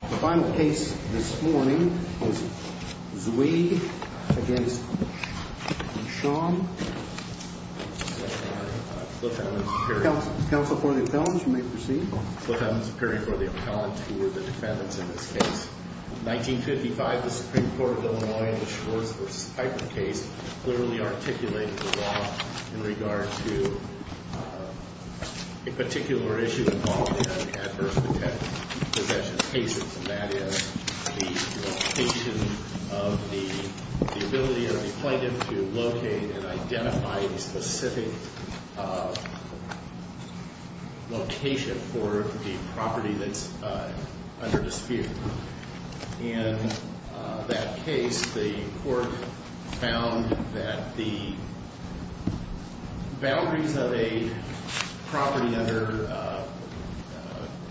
The final case this morning was Zweig v. Schon Council for the Appellants, you may proceed The Supreme Court of Illinois, in the Schwartz v. Piper case, clearly articulated the law in regard to a particular issue involved in adverse possession cases, and that is the location of the, the ability of the plaintiff to locate and identify the specific location for the offence. In this particular case, the court found that the boundaries of a property under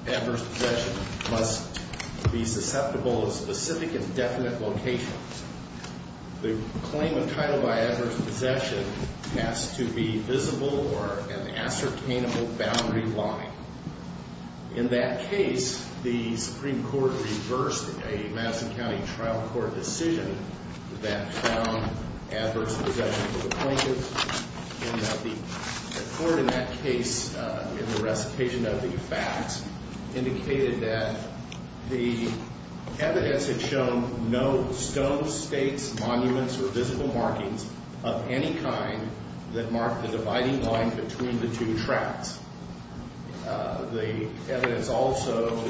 adverse possession must be susceptible to specific and definite locations. The claim entitled by adverse possession has to be visible or an ascertainable boundary line. In that case, the Supreme Court reversed a Madison County trial court decision that found adverse possession of the plaintiff. The court in that case, in the recitation of the facts, indicated that the evidence had shown no stone, stakes, monuments, or visible markings of any kind that marked the dividing line between the two tracts. The evidence also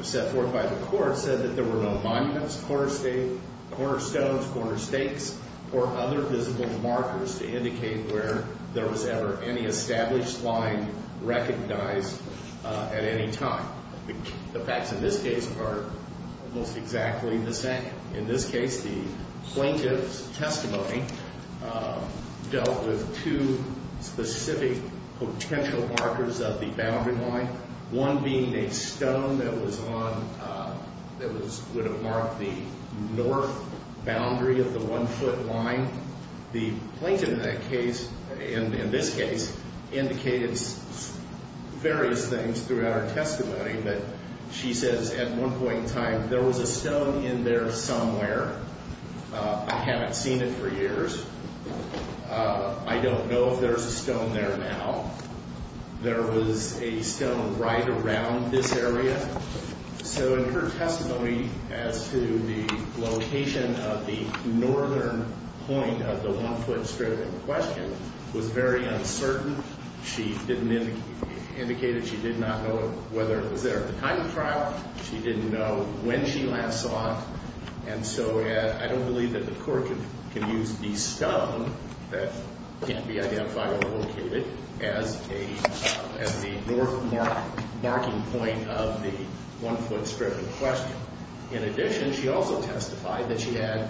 set forth by the court said that there were no monuments, corner stones, corner stakes, or other visible markers to indicate where there was ever any established line recognized at any time. The facts in this case are almost exactly the same. In this case, the plaintiff's testimony dealt with two specific potential markers of the boundary line, one being a stone that was on, that was, would have marked the north boundary of the one-foot line. The plaintiff in that case, in this case, indicated various things throughout her testimony, but she says at one point in time, there was a stone in there somewhere. I haven't seen it for years. I don't know if there's a stone there now. There was a stone right around this area. So in her testimony as to the location of the northern point of the one-foot strip in question was very uncertain. She indicated she did not know whether it was there at the time of trial. She didn't know when she last saw it. And so I don't believe that the court can use the stone that can't be identified or located as the north marking point of the one-foot strip in question. In addition, she also testified that she had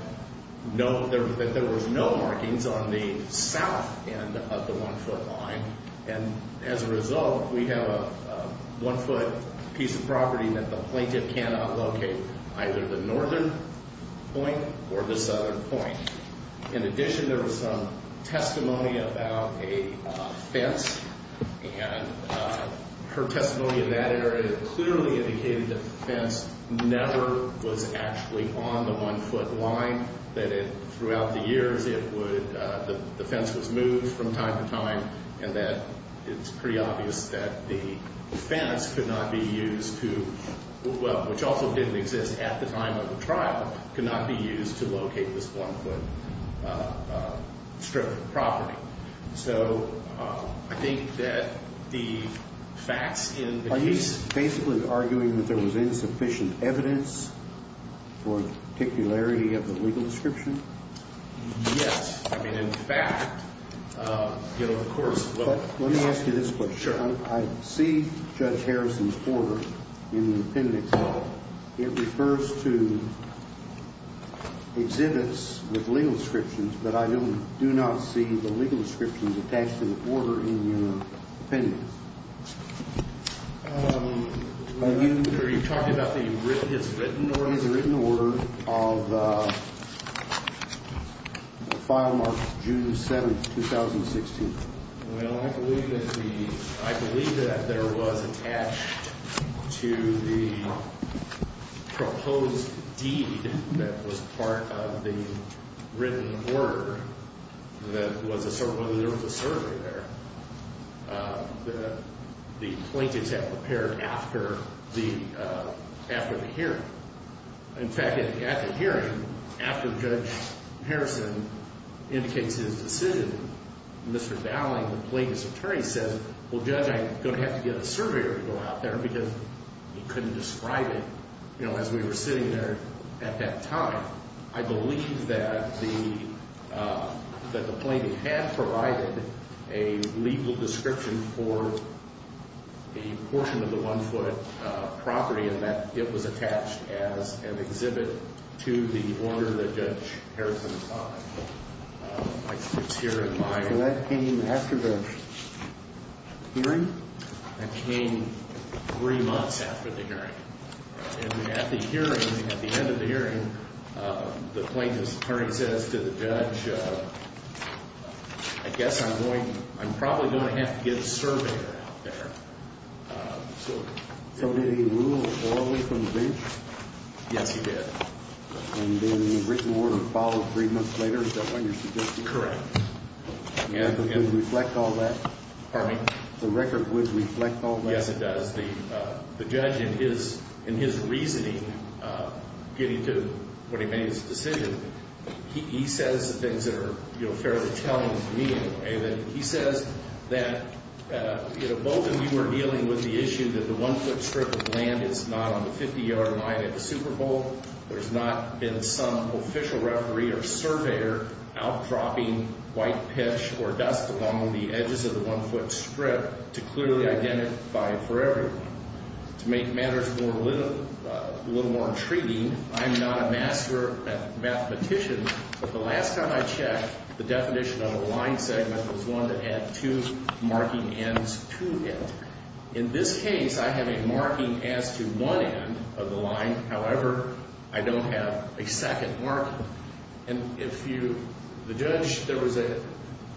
no, that there was no markings on the south end of the one-foot line. And as a result, we have a one-foot piece of property that the plaintiff cannot locate, either the northern point or the southern point. In addition, there was some testimony about a fence. And her testimony in that area clearly indicated that the fence never was actually on the one-foot line, that it, throughout the years, it would, the fence was moved from time to time, and that it's pretty obvious that the fence could not be used to, well, which also didn't exist at the time of the trial, could not be used to locate this one-foot line. So I think that the facts in the case… Are you basically arguing that there was insufficient evidence for the particularity of the legal description? Yes. I mean, in fact, you know, of course… Let me ask you this question. I see Judge Harrison's order in the appendix. It refers to exhibits with legal descriptions, but I do not see the legal descriptions attached to the order in your appendix. Are you talking about the written… The written order of the file marked June 7th, 2016? Well, I believe that the, I believe that there was attached to the proposed deed that was part of the written order that was, there was a survey there that the plaintiffs had prepared after the, after the hearing. In fact, at the hearing, after Judge Harrison indicates his decision, Mr. Dowling, the plaintiff's attorney, says, well, Judge, I'm going to have to get a surveyor to go out there because he couldn't describe it, you know, as we were sitting there at that time. I believe that the, that the plaintiff had provided a legal description for the portion of the one-foot property and that it was attached as an exhibit to the order that Judge Harrison filed. It's here in my… And that came after the hearing? That came three months after the hearing. And at the hearing, at the end of the hearing, the plaintiff's attorney says to the judge, I guess I'm going, I'm probably going to have to get a surveyor out there. So did he rule orally from the bench? Yes, he did. And then the written order followed three months later, is that what you're suggesting? Correct. Yeah. Does it reflect all that? Pardon me? The record would reflect all that? Yes, it does. The judge, in his reasoning, getting to when he made his decision, he says the things that are, you know, fairly telling to me. He says that, you know, both of you were dealing with the issue that the one-foot strip of land is not on the 50-yard line at the Super Bowl. There's not been some official referee or surveyor out dropping white pitch or dust along the edges of the one-foot strip to clearly identify it for everyone. To make matters a little more intriguing, I'm not a master mathematician, but the last time I checked, the definition of a line segment was one that had two marking ends to it. In this case, I have a marking as to one end of the line. However, I don't have a second marking. And if you, the judge, there was a,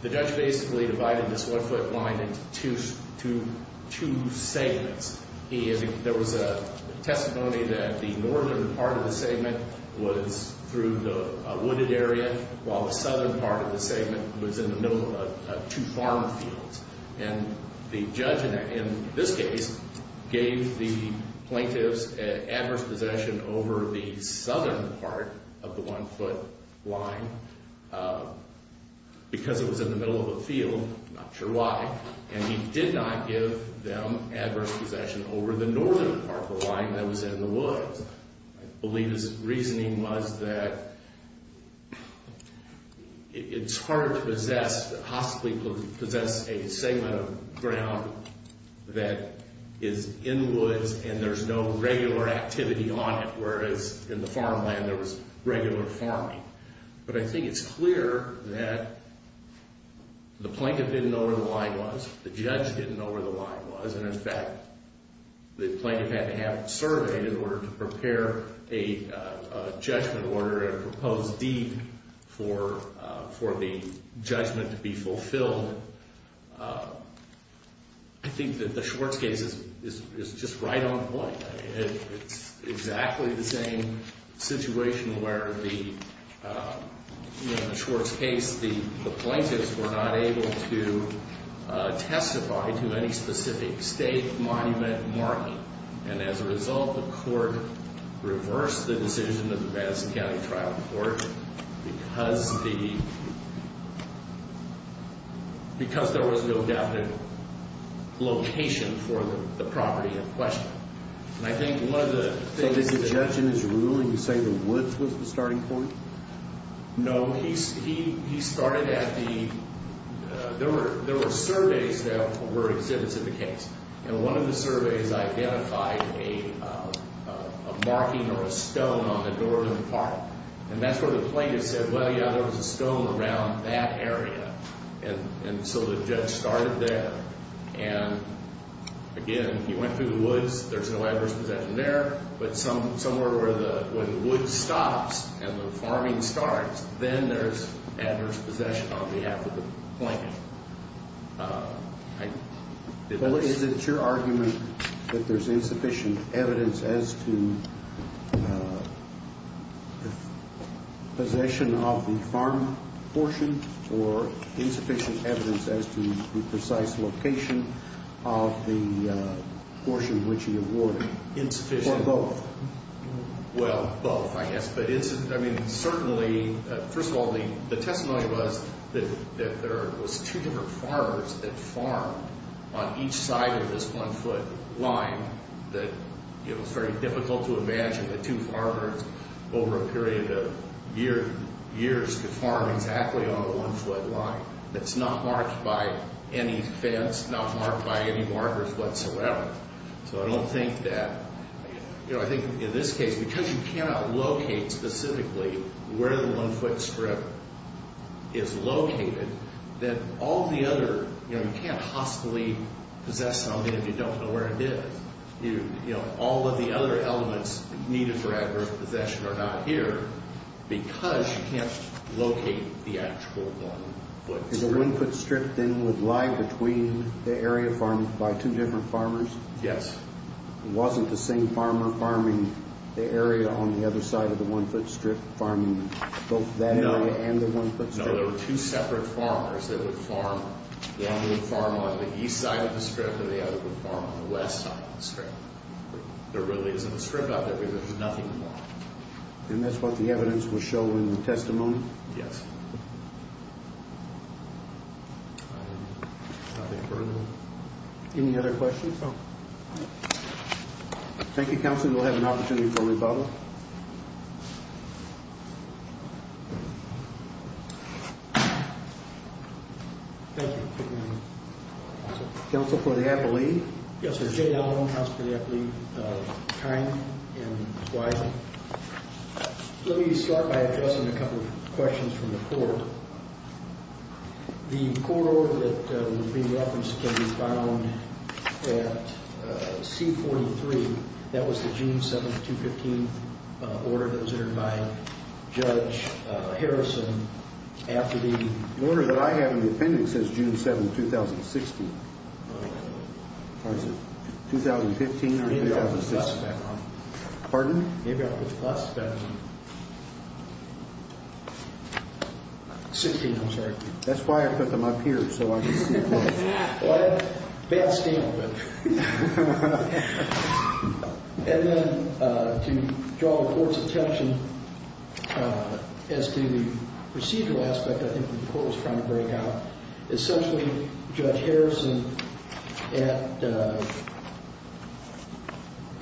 the judge basically divided this one-foot line into two segments. There was a testimony that the northern part of the segment was through the wooded area, while the southern part of the segment was in the middle of two farm fields. And the judge in this case gave the plaintiffs adverse possession over the southern part of the one-foot line because it was in the middle of a field. I'm not sure why. And he did not give them adverse possession over the northern part of the line that was in the woods. I believe his reasoning was that it's hard to possess, possibly possess a segment of ground that is in woods and there's no regular activity on it, whereas in the farmland there was regular farming. But I think it's clear that the plaintiff didn't know where the line was. The judge didn't know where the line was. And in fact, the plaintiff had to have it surveyed in order to prepare a judgment order, a proposed deed for the judgment to be fulfilled. I think that the Schwartz case is just right on point. It's exactly the same situation where the Schwartz case, the plaintiffs were not able to testify to any specific state, monument, marking. And as a result, the court reversed the decision of the Madison County Trial Court because there was no definite location for the property in question. And I think one of the things that... So did the judge in his ruling say the woods was the starting point? No. He started at the... There were surveys that were exhibited in the case. And one of the surveys identified a marking or a stone on the door of the park. And that's where the plaintiff said, well, yeah, there was a stone around that area. And so the judge started there. And again, he went through the woods. There's no adverse possession there. But somewhere where the wood stops and the farming starts, then there's adverse possession on behalf of the plaintiff. Well, is it your argument that there's insufficient evidence as to possession of the farm portion or insufficient evidence as to the precise location of the portion which he awarded? Insufficient. Or both? Well, both, I guess. Certainly, first of all, the testimony was that there was two different farmers that farmed on each side of this one-foot line. It was very difficult to imagine that two farmers over a period of years could farm exactly on a one-foot line that's not marked by any fence, not marked by any markers whatsoever. So I don't think that, you know, I think in this case, because you cannot locate specifically where the one-foot strip is located, then all the other, you know, you can't hostilely possess something if you don't know where it is. You know, all of the other elements needed for adverse possession are not here because you can't locate the actual one-foot strip. So the one-foot strip then would lie between the area farmed by two different farmers? Yes. It wasn't the same farmer farming the area on the other side of the one-foot strip, farming both that area and the one-foot strip? No, there were two separate farmers that would farm. One would farm on the east side of the strip and the other would farm on the west side of the strip. There really isn't a strip out there because there's nothing marked. And that's what the evidence was showing in the testimony? Yes. I don't have anything further. Any other questions? No. Thank you, Counselor. We'll have an opportunity for a rebuttal. Thank you. Counsel for the affiliate? Yes, I'm Jay Allen, Counsel for the affiliate. Kind and wise. Let me start by addressing a couple of questions from the court. The court order that was being referenced can be found at C-43. That was the June 7, 2015 order that was entered by Judge Harrison after the The order that I have in the appendix says June 7, 2016. Or is it 2015 or 2016? Maybe I'll put the plus back on. Pardon? Maybe I'll put the plus back on. Sixteen, I'm sorry. That's why I put them up here so I can see them. Well, I had a bad stamp. And then to draw the court's attention as to the procedural aspect, I think, that the court was trying to break out. Essentially, Judge Harrison,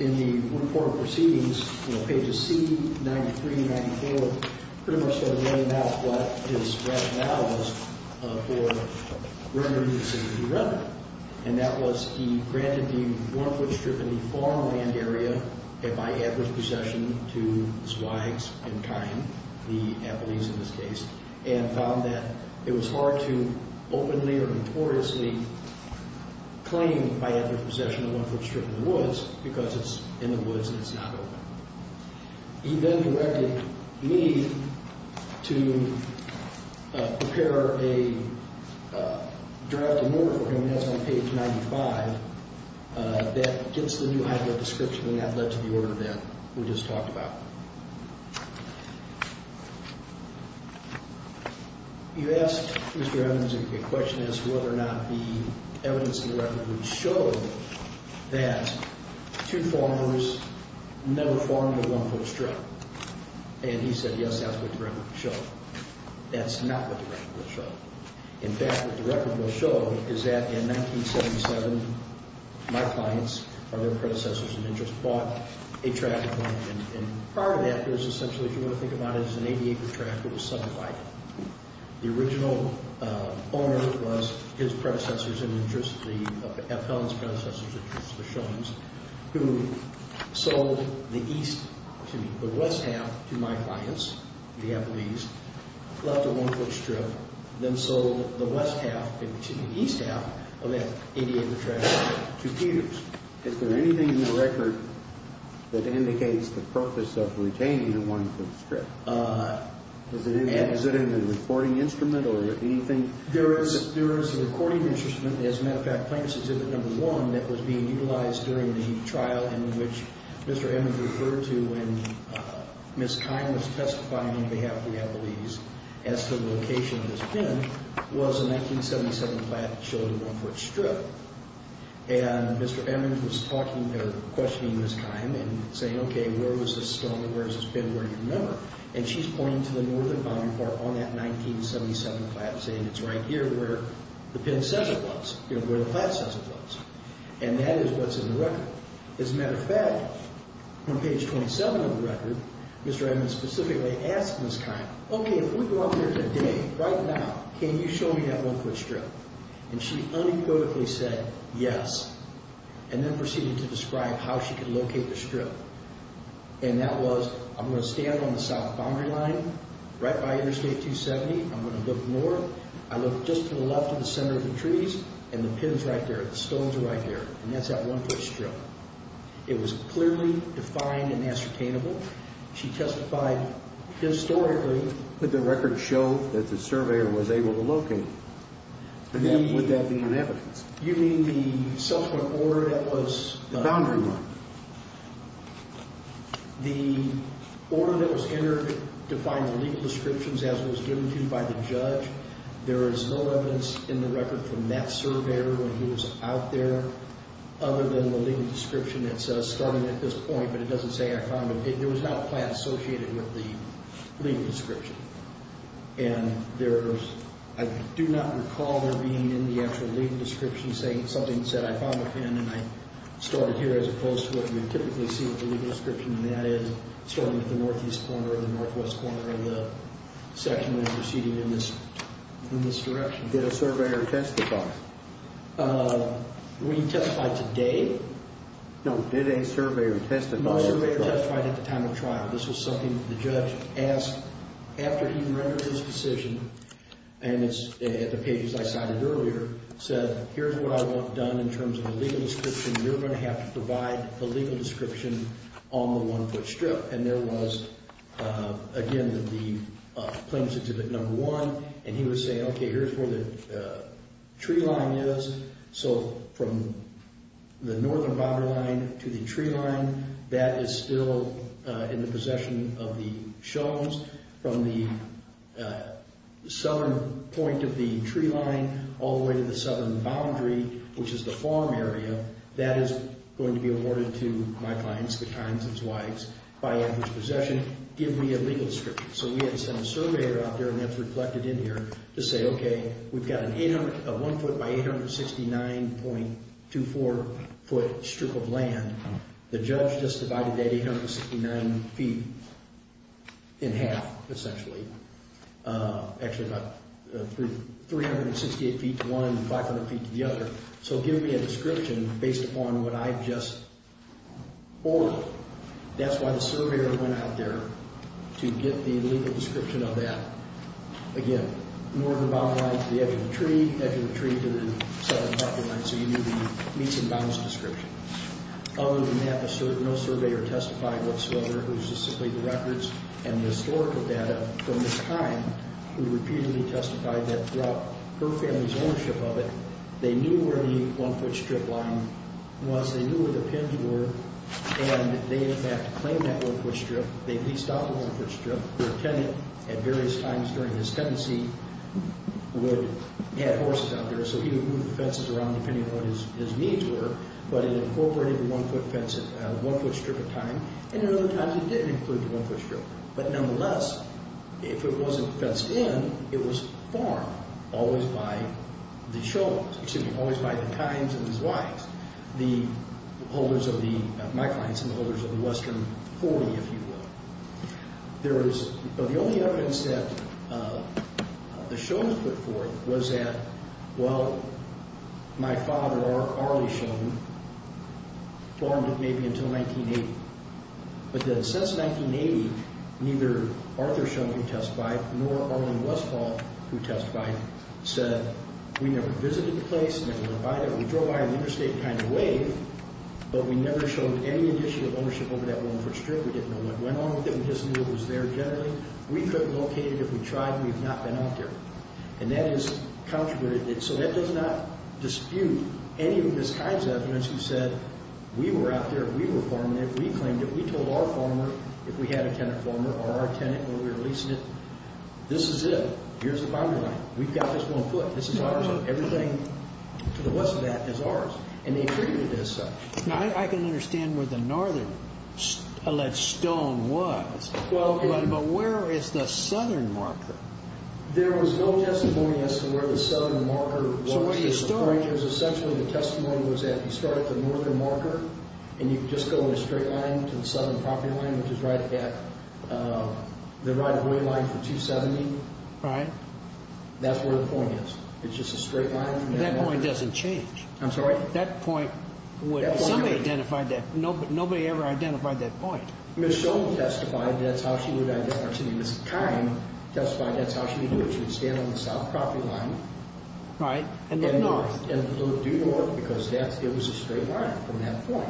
in the report of proceedings, pages C-93 and 94, pretty much sort of laid out what his rationale was for rendering this a new record. And that was he granted the one-foot strip in the farmland area by adverse possession to Zweig and Kine, the Appleys in this case, and found that it was hard to openly or notoriously claim by adverse possession of a one-foot strip in the woods because it's in the woods and it's not open. He then directed me to prepare a drafting order for him, and that's on page 95, that gets the new highway description and that led to the order that we just talked about. You asked, Mr. Evans, if the question is whether or not the evidence in the record would show that two farmers never farmed a one-foot strip. And he said, yes, that's what the record would show. That's not what the record will show. In fact, what the record will show is that in 1977, my clients, or their predecessors in interest, bought a tractor plant. And part of that is essentially, if you want to think about it, is an 80-acre tractor with seven bikes. The original owner was his predecessors in interest, the Appellant's predecessors in interest, the Shones, who sold the west half to my clients, the Appleys, left a one-foot strip, then sold the west half to the east half of that 80-acre tractor to Peters. Is there anything in the record that indicates the purpose of retaining a one-foot strip? Is it in the recording instrument or anything? There is a recording instrument. As a matter of fact, Plaintiff's Exhibit No. 1 that was being utilized during the trial in which Mr. Evans referred to when Ms. Kime was testifying on behalf of the Appleys as to the location of this bin was a 1977 plant that showed a one-foot strip. And Mr. Evans was questioning Ms. Kime and saying, okay, where was this stone, where is this bin, where do you remember? And she's pointing to the northern boundary part on that 1977 plant and saying it's right here where the plant says it was. And that is what's in the record. As a matter of fact, on page 27 of the record, Mr. Evans specifically asked Ms. Kime, okay, if we go out there today, right now, can you show me that one-foot strip? And she unequivocally said, yes, and then proceeded to describe how she could locate the strip. And that was, I'm going to stand on the south boundary line, right by Interstate 270, I'm going to look north, I look just to the left of the center of the trees, and the pin is right there, the stones are right there, and that's that one-foot strip. It was clearly defined and ascertainable. She testified historically. Could the record show that the surveyor was able to locate it? Would that be an evidence? You mean the subsequent order that was done? The boundary line. The order that was entered to find the legal descriptions, as was given to you by the judge, there is no evidence in the record from that surveyor when he was out there other than the legal description that says starting at this point, but it doesn't say I found it. There was not a plant associated with the legal description. And there's, I do not recall there being in the actual legal description something that said I found a pin and I started here, as opposed to what you would typically see with the legal description, and that is starting at the northeast corner or the northwest corner of the section that was proceeding in this direction. Did a surveyor testify? We didn't testify today. No, did a surveyor testify at the trial? No, a surveyor testified at the time of trial. This was something that the judge asked after he rendered his decision, and it's at the pages I cited earlier, said here's what I want done in terms of the legal description. You're going to have to provide the legal description on the one-foot strip. And there was, again, the plaintiff's exhibit number one, and he would say, okay, here's where the tree line is. So from the northern boundary line to the tree line, that is still in the possession of the Shones. From the southern point of the tree line all the way to the southern boundary, which is the farm area, that is going to be awarded to my clients, the times and swipes, by Andrew's possession. Give me a legal description. So we had to send a surveyor out there, and that's reflected in here, to say, okay, we've got a one-foot by 869.24-foot strip of land. The judge just divided that 869 feet in half, essentially. Actually, about 368 feet to one and 500 feet to the other. So give me a description based upon what I just ordered. That's why the surveyor went out there to get the legal description of that. Again, northern boundary line to the edge of the tree, edge of the tree to the southern boundary line, so you knew the meets and bounds description. Other than that, no surveyor testified whatsoever. It was just simply the records and the historical data from this time. We repeatedly testified that throughout her family's ownership of it, they knew where the one-foot strip line was. They knew where the pins were, and they, in fact, claimed that one-foot strip. They leased out the one-foot strip. Their tenant, at various times during his tenancy, had horses out there, so he would move the fences around depending on what his needs were, but it incorporated the one-foot strip of time, and in other times it didn't include the one-foot strip. But nonetheless, if it wasn't fenced in, it was farmed, always by the times and his wives, the holders of the—my clients and the holders of the Western 40, if you will. There was—the only evidence that the Shonans put forth was that, well, my father, R. R. Lee Shonan, farmed it maybe until 1980. But then since 1980, neither Arthur Shonan, who testified, nor Arlene Westhall, who testified, said, we never visited the place, never went by it. We drove by it in an interstate kind of way, but we never showed any initial ownership over that one-foot strip. We didn't know what went on with it. We just knew it was there generally. We couldn't locate it. If we tried, we would not have been out there. And that is—so that does not dispute any of this kind of evidence who said, we were out there, we were farming it, we claimed it, we told our farmer, if we had a tenant farmer or our tenant when we were leasing it, this is it. Here's the boundary line. We've got this one foot. This is ours. Everything to the west of that is ours. And they treated it as such. Now, I can understand where the northern stone was, but where is the southern marker? There was no testimony as to where the southern marker was. So what's the story? Essentially, the testimony was that you start at the northern marker and you just go in a straight line to the southern property line, which is right at the right of way line for 270. Right. That's where the point is. It's just a straight line. That point doesn't change. I'm sorry? That point, somebody identified that. Nobody ever identified that point. Ms. Stone testified that's how she would identify it. Ms. Kime testified that's how she would do it. She would stand on the south property line. Right. And look north. And look due north because it was a straight line from that point.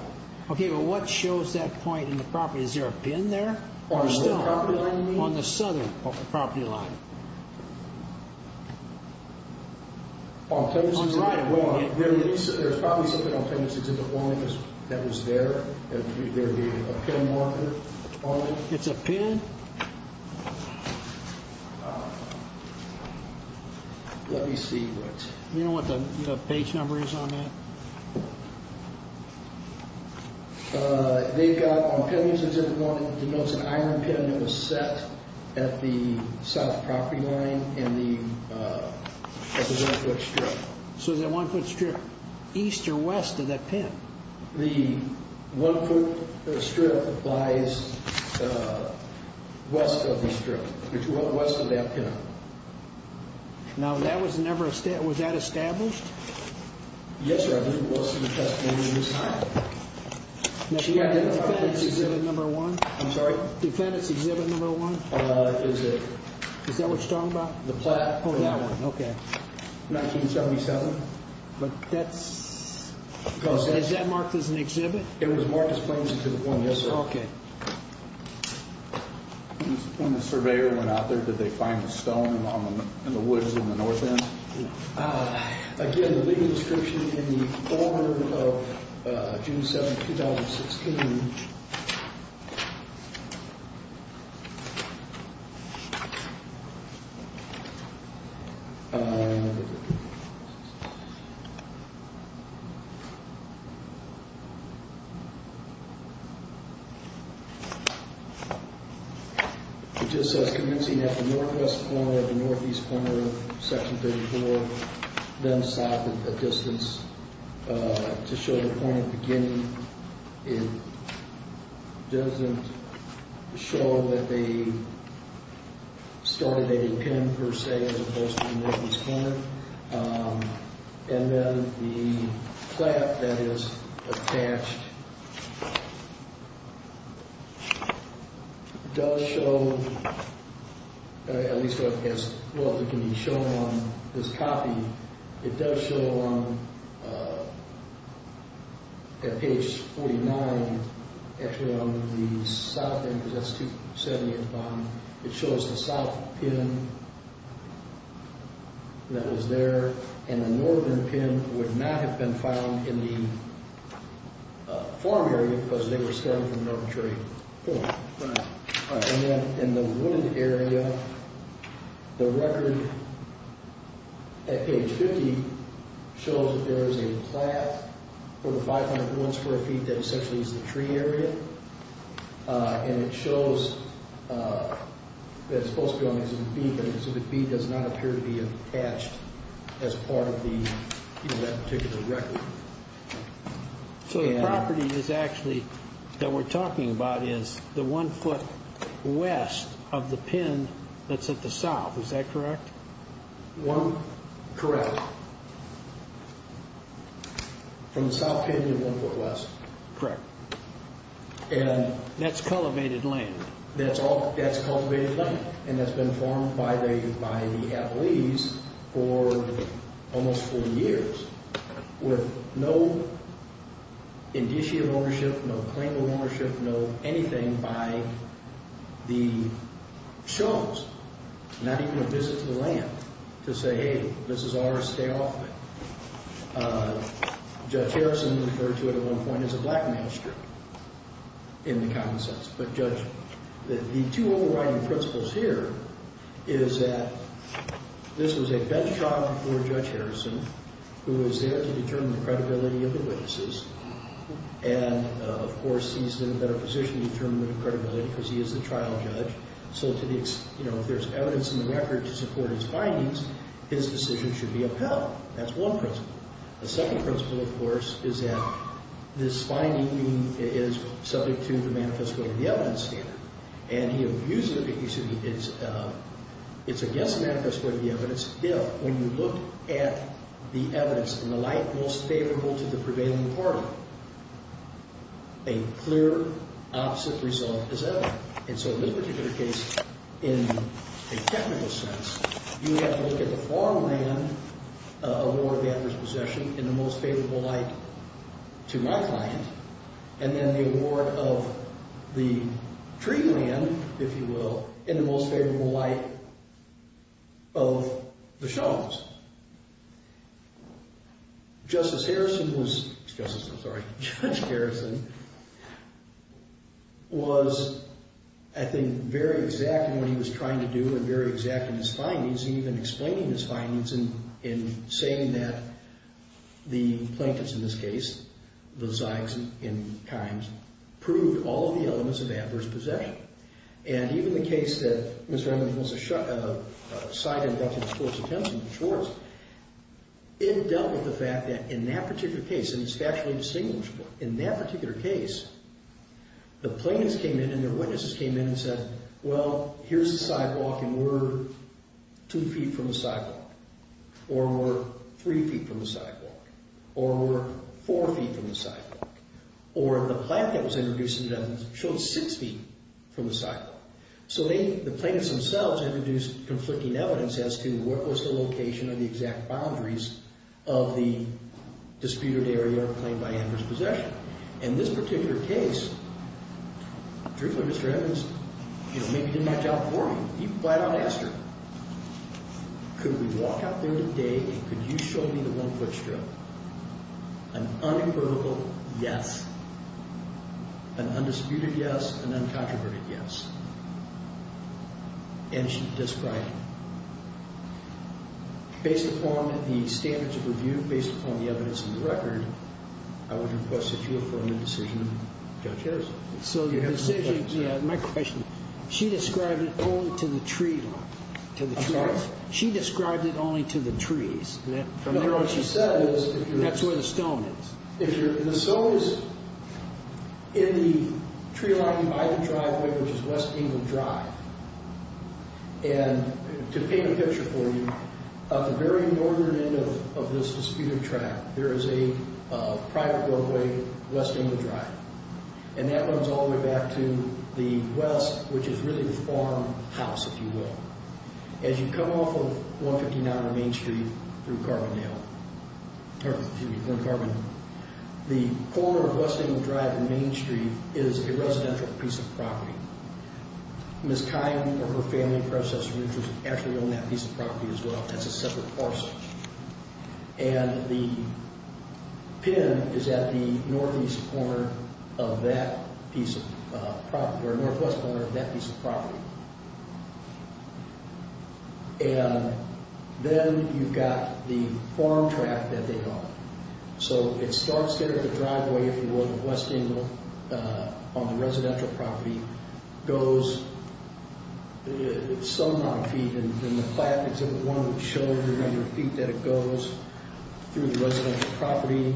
Okay. Well, what shows that point in the property? Is there a pin there? On the property line? On the southern property line. There's probably something on Penance Exhibit 1 that was there. There would be a pin marker on it. It's a pin? Let me see what. Do you know what the page number is on that? They've got on Penance Exhibit 1, it denotes an iron pin that was set at the south property line. And the one-foot strip. So is that one-foot strip east or west of that pin? The one-foot strip lies west of the strip, west of that pin. Now, that was never established. Was that established? Yes, sir. I believe it was in the testimony of Ms. Kime. She identified Penance Exhibit 1. I'm sorry? Penance Exhibit 1. Is that what you're talking about? The plaque. Oh, that one. Okay. 1977. But that's... Is that marked as an exhibit? It was marked as Penance Exhibit 1, yes, sir. Okay. When the surveyor went out there, did they find the stone in the woods in the north end? Again, the legal description in the order of June 7, 2016. It just says, Commencing at the northwest corner of the northeast corner of Section 34, then south a distance to show the point of beginning. It doesn't show that they started at a pin, per se, as opposed to the northeast corner. And then the plaque that is attached does show, at least what can be shown on this copy, it does show on page 49, actually on the south end, it shows the south pin that was there, and the northern pin would not have been found in the farm area because they were starting from an arbitrary point. Right. And then in the wooded area, the record at page 50 shows that there is a plaque for the 501 square feet that essentially is the tree area, and it shows that it's supposed to be on exhibit B, but exhibit B does not appear to be attached as part of that particular record. So the property is actually, that we're talking about, is the one foot west of the pin that's at the south. Is that correct? Correct. From the south pin, you're one foot west. Correct. That's cultivated land. That's cultivated land, and that's been farmed by the Avalese for almost 40 years with no indicia of ownership, no claim of ownership, no anything by the Shones, not even a visit to the land, to say, hey, this is ours, stay off of it. Judge Harrison referred to it at one point as a black master in the common sense, but Judge, the two overriding principles here is that this was a bench trial before Judge Harrison who was there to determine the credibility of the witnesses, and, of course, he's in a better position to determine the credibility because he is the trial judge, so if there's evidence in the record to support his findings, his decision should be upheld. That's one principle. The second principle, of course, is that this finding is subject to the manifest way of the evidence standard, and he abuses it. It's against the manifest way of the evidence if, when you look at the evidence in the light most favorable to the prevailing party, a clear opposite result is evident. And so in this particular case, in a technical sense, you have to look at the farmland award of the actor's possession in the most favorable light to my client, and then the award of the tree land, if you will, in the most favorable light of the showman's. Justice Harrison was, Justice, I'm sorry, Judge Harrison, was, I think, very exact in what he was trying to do and very exact in his findings, and even explaining his findings in saying that the plaintiffs, in this case, the Zeigs and Kimes, proved all of the elements of adverse possession. And even the case that Ms. Remington was a side inductee in Schwartz, it dealt with the fact that, in that particular case, and it's factually distinguishable, in that particular case, the plaintiffs came in and their witnesses came in and said, well, here's the sidewalk, and we're two feet from the sidewalk, or we're three feet from the sidewalk, or we're four feet from the sidewalk, or the plant that was introduced in the evidence showed six feet from the sidewalk. So the plaintiffs themselves introduced conflicting evidence as to what was the location of the exact boundaries of the disputed area claimed by Embers' possession. In this particular case, Drupal and Mr. Embers, you know, maybe didn't match up for me. He flat out asked her, could we walk out there today and could you show me the one-foot strip? An unequivocal yes. An undisputed yes. An uncontroverted yes. And she described it. Based upon the standards of review, based upon the evidence in the record, I would request that you affirm the decision, Judge Harris. So the decision, yeah, my question, she described it only to the tree line, to the trees. She described it only to the trees. From what she said is, that's where the stone is. The stone is in the tree line by the driveway, which is West England Drive. And to paint a picture for you, at the very northern end of this disputed track, there is a private roadway, West England Drive. And that runs all the way back to the west, which is really the farmhouse, if you will. As you come off of 159 Main Street through Carbondale, or excuse me, North Carbondale, is a residential piece of property. Ms. Kyle, or her family and predecessors, actually own that piece of property as well. That's a separate parcel. And the pin is at the northeast corner of that piece of property, or northwest corner of that piece of property. And then you've got the farm track that they call it. So it starts there at the driveway, if you will, of West England on the residential property, goes some amount of feet. And the plaque exhibit one would show the number of feet that it goes through the residential property.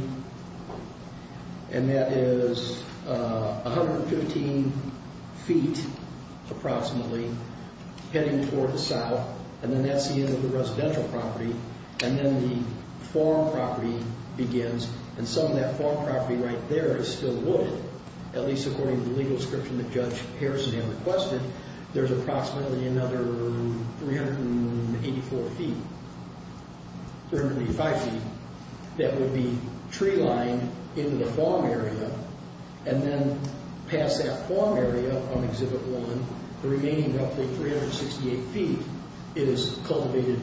And that is 115 feet, approximately, heading toward the south. And then that's the end of the residential property. And then the farm property begins. And some of that farm property right there is still wood, at least according to the legal description that Judge Harrison had requested. There's approximately another 384 feet, 385 feet, that would be tree-lined into the farm area and then pass that farm area on exhibit one, the remaining roughly 368 feet. It is cultivated.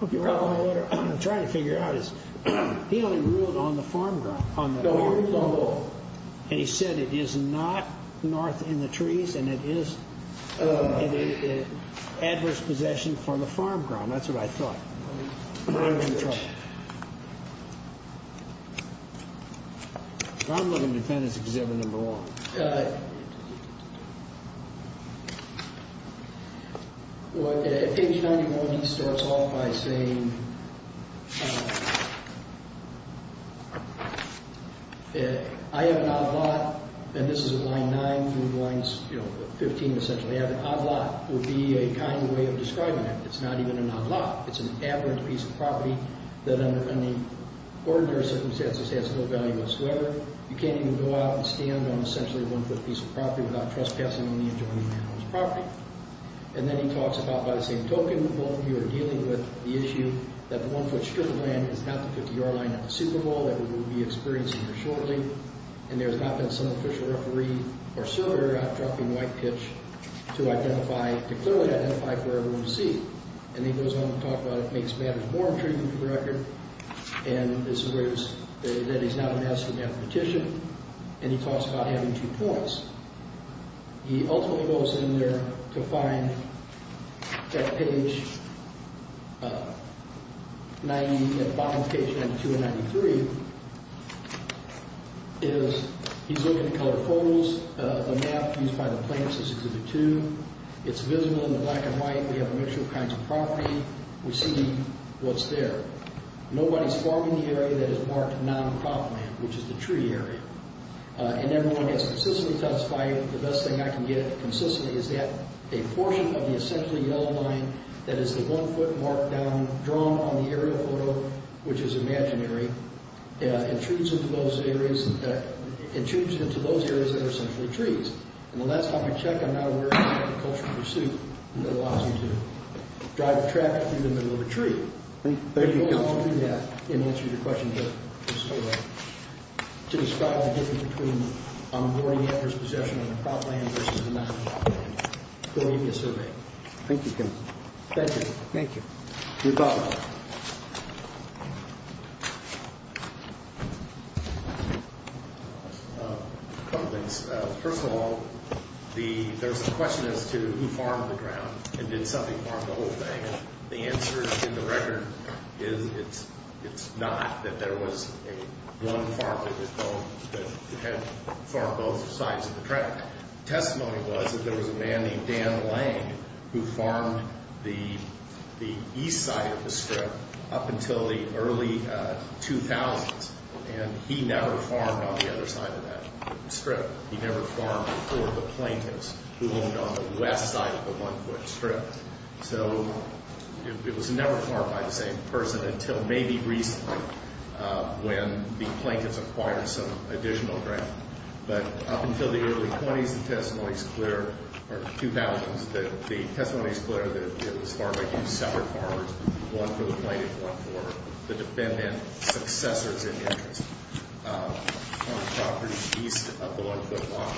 The problem I'm trying to figure out is he only ruled on the farm ground, on the farm level. And he said it is not north in the trees and it is adverse possession from the farm ground. That's what I thought. I'm in trouble. Ground-level defendants exhibit number one. Well, at page 91, he starts off by saying, I have an odd lot, and this is at line nine through line 15, essentially. An odd lot would be a kind way of describing it. It's not even an odd lot. It's an abhorrent piece of property that under any ordinary circumstances has no value whatsoever. You can't even go out and stand on, essentially, a one-foot piece of property without trespassing on the enjoyment of the owner's property. And then he talks about, by the same token, both of you are dealing with the issue that the one-foot strip of land is not the 50-yard line at the Super Bowl that we will be experiencing here shortly. And there's not been some official referee or server out trucking white pitch to identify, to clearly identify for everyone to see. And then he goes on to talk about it makes matters more intriguing for the record. And it's the words that he's not a master mathematician, and he talks about having two points. He ultimately goes in there to find at page 90, at the bottom of page 92 and 93, is he's looking at colored photos. The map used by the plaintiffs is included, too. It's visible in the black and white. We have a mixture of kinds of property. We see what's there. Nobody's farming the area that is marked non-crop land, which is the tree area. And everyone gets consistently testified, the best thing I can get consistently, is that a portion of the essentially yellow line that is the one-foot mark down drawn on the aerial photo, which is imaginary, intrudes into those areas that are essentially trees. And the last time you check, I'm not aware of any agricultural pursuit that allows you to drive a tractor through the middle of a tree. Thank you, counsel. It goes on through that, in answer to your question, but it's still there, to describe the difference between onboarding after his possession of the crop land versus the non-crop land. Go read me a survey. Thank you, counsel. Thank you. Thank you. You're welcome. A couple things. First of all, there's a question as to who farmed the ground and did somebody farm the whole thing. The answer in the record is it's not that there was one farmer that had farmed both sides of the trail. Testimony was that there was a man named Dan Lang who farmed the east side of the strip up until the early 2000s. And he never farmed on the other side of that strip. He never farmed for the plaintiffs who owned on the west side of the one-foot strip. So it was never farmed by the same person until maybe recently when the plaintiffs acquired some additional ground. But up until the early 20s, the testimony is clear, or 2000s, that the testimony is clear that it was farmed by two separate farmers, one for the plaintiff, one for the defendant, successors in interest. Farmed property east of the one-foot line.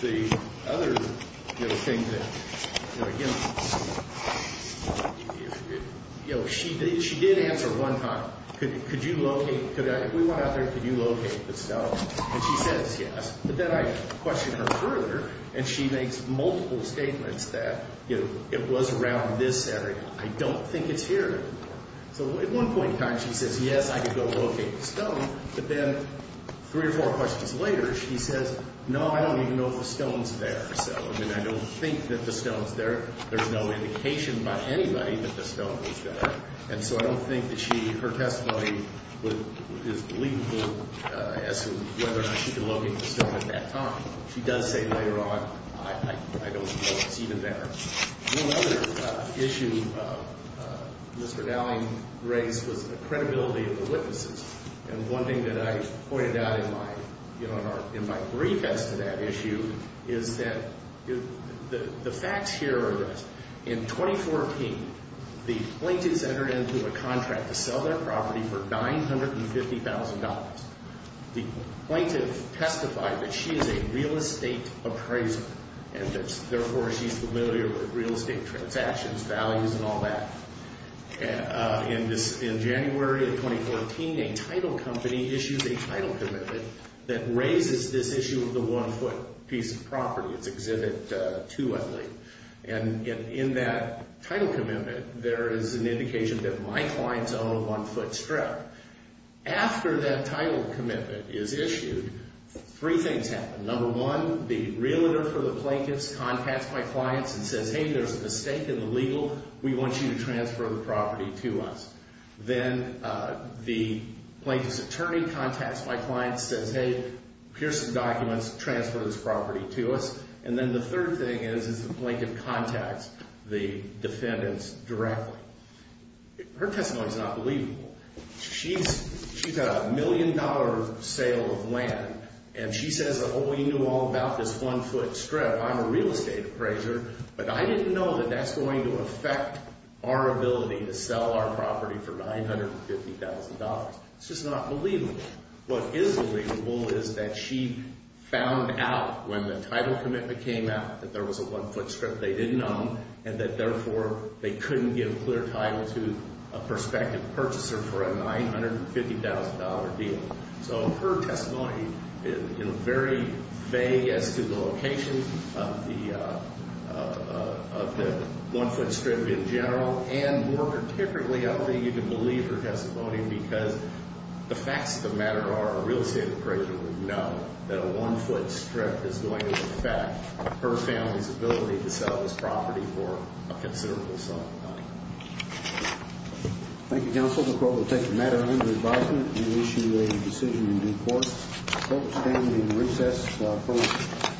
The other thing that, again, she did answer one time, could you locate, if we went out there, could you locate the stuff? And she says yes. But then I question her further and she makes multiple statements that it was around this area. I don't think it's here. So at one point in time she says, yes, I could go locate the stone. But then three or four questions later she says, no, I don't even know if the stone's there. So, I mean, I don't think that the stone's there. There's no indication by anybody that the stone was there. And so I don't think that she, her testimony is believable as to whether or not she could locate the stone at that time. She does say later on, I don't know if it's even there. One other issue Mr. Dowling raised was the credibility of the witnesses. And one thing that I pointed out in my brief as to that issue is that the facts here are this. In 2014, the plaintiffs entered into a contract to sell their property for $950,000. The plaintiff testified that she is a real estate appraiser and that, therefore, she's familiar with real estate transactions, values, and all that. In January of 2014, a title company issues a title commitment that raises this issue of the one-foot piece of property. It's Exhibit 2, I believe. And in that title commitment, there is an indication that my clients own a one-foot strip. After that title commitment is issued, three things happen. Number one, the realtor for the plaintiffs contacts my clients and says, hey, there's a mistake in the legal. We want you to transfer the property to us. Then the plaintiff's attorney contacts my clients, says, hey, here's some documents. Transfer this property to us. And then the third thing is is the plaintiff contacts the defendants directly. Her testimony is not believable. She's had a million-dollar sale of land and she says that, oh, we knew all about this one-foot strip. I'm a real estate appraiser, but I didn't know that that's going to affect our ability to sell our property for $950,000. It's just not believable. What is believable is that she found out when the title commitment came out that there was a one-foot strip they didn't own and that, therefore, they couldn't give clear title to a prospective purchaser for a $950,000 deal. So her testimony, very vague as to the location of the one-foot strip in general and more particularly, I don't think you can believe her testimony because the facts of the matter are a real estate appraiser would know that a one-foot strip is going to affect her family's ability to sell this property for a considerable sum of money. Thank you, counsel. The court will take the matter under advisement and issue a decision in due course. The court will stand in recess for a moment.